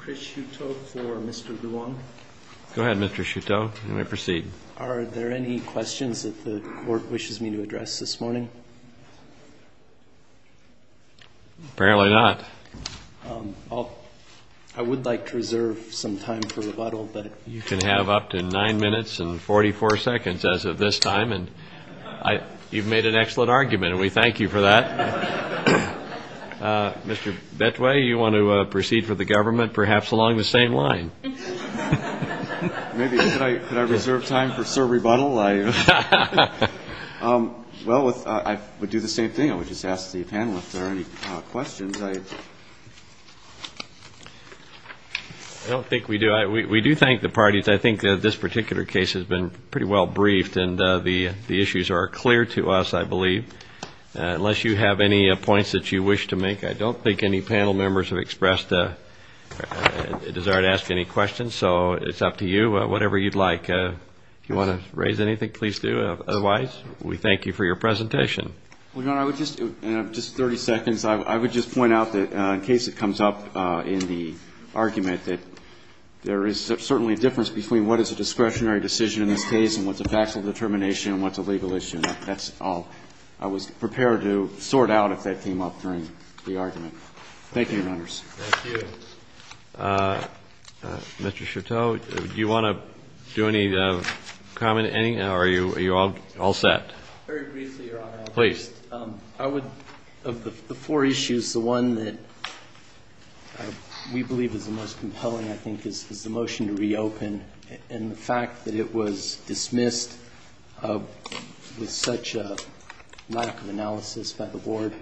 Chris Chertoff for Mr. Vuong. Go ahead, Mr. Chertoff. You may proceed. Are there any questions that the Court wishes me to address this morning? Apparently not. I would like to reserve some time for rebuttal. You can have up to nine minutes and 44 seconds as of this time. You've made an excellent argument, and we thank you for that. Mr. Betway, you want to proceed for the government, perhaps along the same line? Maybe. Could I reserve time for, sir, rebuttal? Well, I would do the same thing. I would just ask the panel if there are any questions. I don't think we do. We do thank the parties. I think this particular case has been pretty well briefed, and the issues are clear to us, I believe, unless you have any points that you wish to make. I don't think any panel members have expressed a desire to ask any questions, so it's up to you. Whatever you'd like. If you want to raise anything, please do. Otherwise, we thank you for your presentation. Well, Your Honor, I would just, in just 30 seconds, I would just point out that in case it comes up in the argument, that there is certainly a difference between what is a discretionary decision in this case and what's a factual determination and what's a legal issue. And that's all. I was prepared to sort out if that came up during the argument. Thank you, Your Honors. Thank you. Mr. Chateau, do you want to do any comment, any? Or are you all set? Very briefly, Your Honor. Please. The first thing I think is the motion to reopen and the fact that it was dismissed with such a lack of analysis by the Board.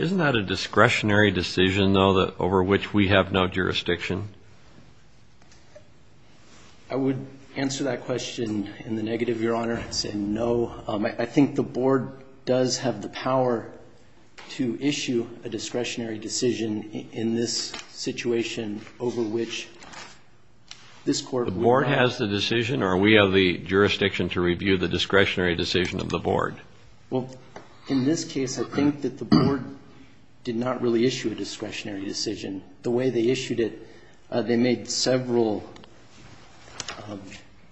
Isn't that a discretionary decision, though, over which we have no jurisdiction? I would answer that question in the negative, Your Honor. I'd say no. I think the Board does have the power to issue a discretionary decision in this situation over which this Court would not. The Board has the decision or we have the jurisdiction to review the discretionary decision of the Board? Well, in this case, I think that the Board did not really issue a discretionary decision. The way they issued it, they made several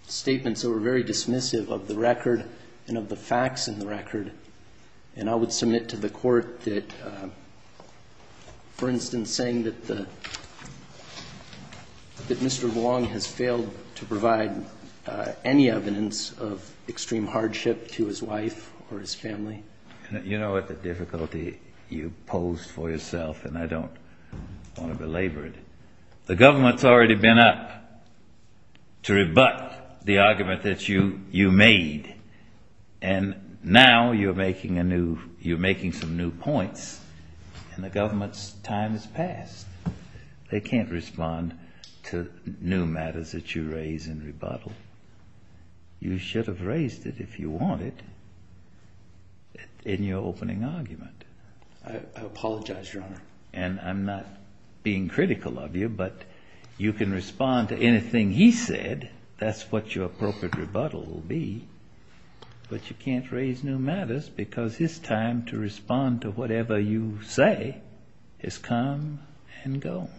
statements that were very dismissive of the record and of the facts in the record. And I would submit to the Court that, for instance, saying that Mr. Long has failed to provide any evidence of extreme hardship to his wife or his family. You know what the difficulty you posed for yourself, and I don't want to belabor it. The government's already been up to rebut the argument that you made. And now you're making some new points, and the government's time has passed. They can't respond to new matters that you raise and rebuttal. You should have raised it if you wanted in your opening argument. I apologize, Your Honor. And I'm not being critical of you, but you can respond to anything he said. That's what your appropriate rebuttal will be. But you can't raise new matters because his time to respond to whatever you say has come and gone.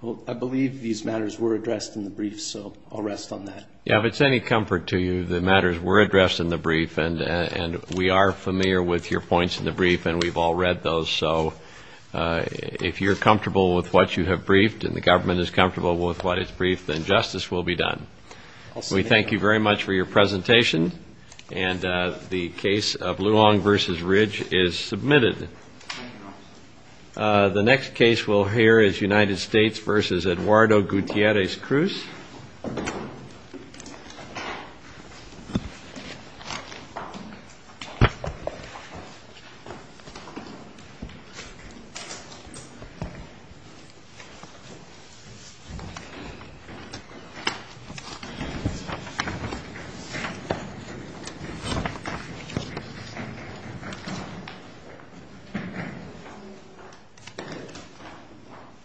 Well, I believe these matters were addressed in the brief, so I'll rest on that. Yeah, if it's any comfort to you, the matters were addressed in the brief, and we are familiar with your points in the brief, and we've all read those, so if you're comfortable with what you have briefed and the government is comfortable with what is briefed, then justice will be done. We thank you very much for your presentation, and the case of Luong v. Ridge is submitted. The next case we'll hear is United States v. Eduardo Gutierrez Cruz. Thank you.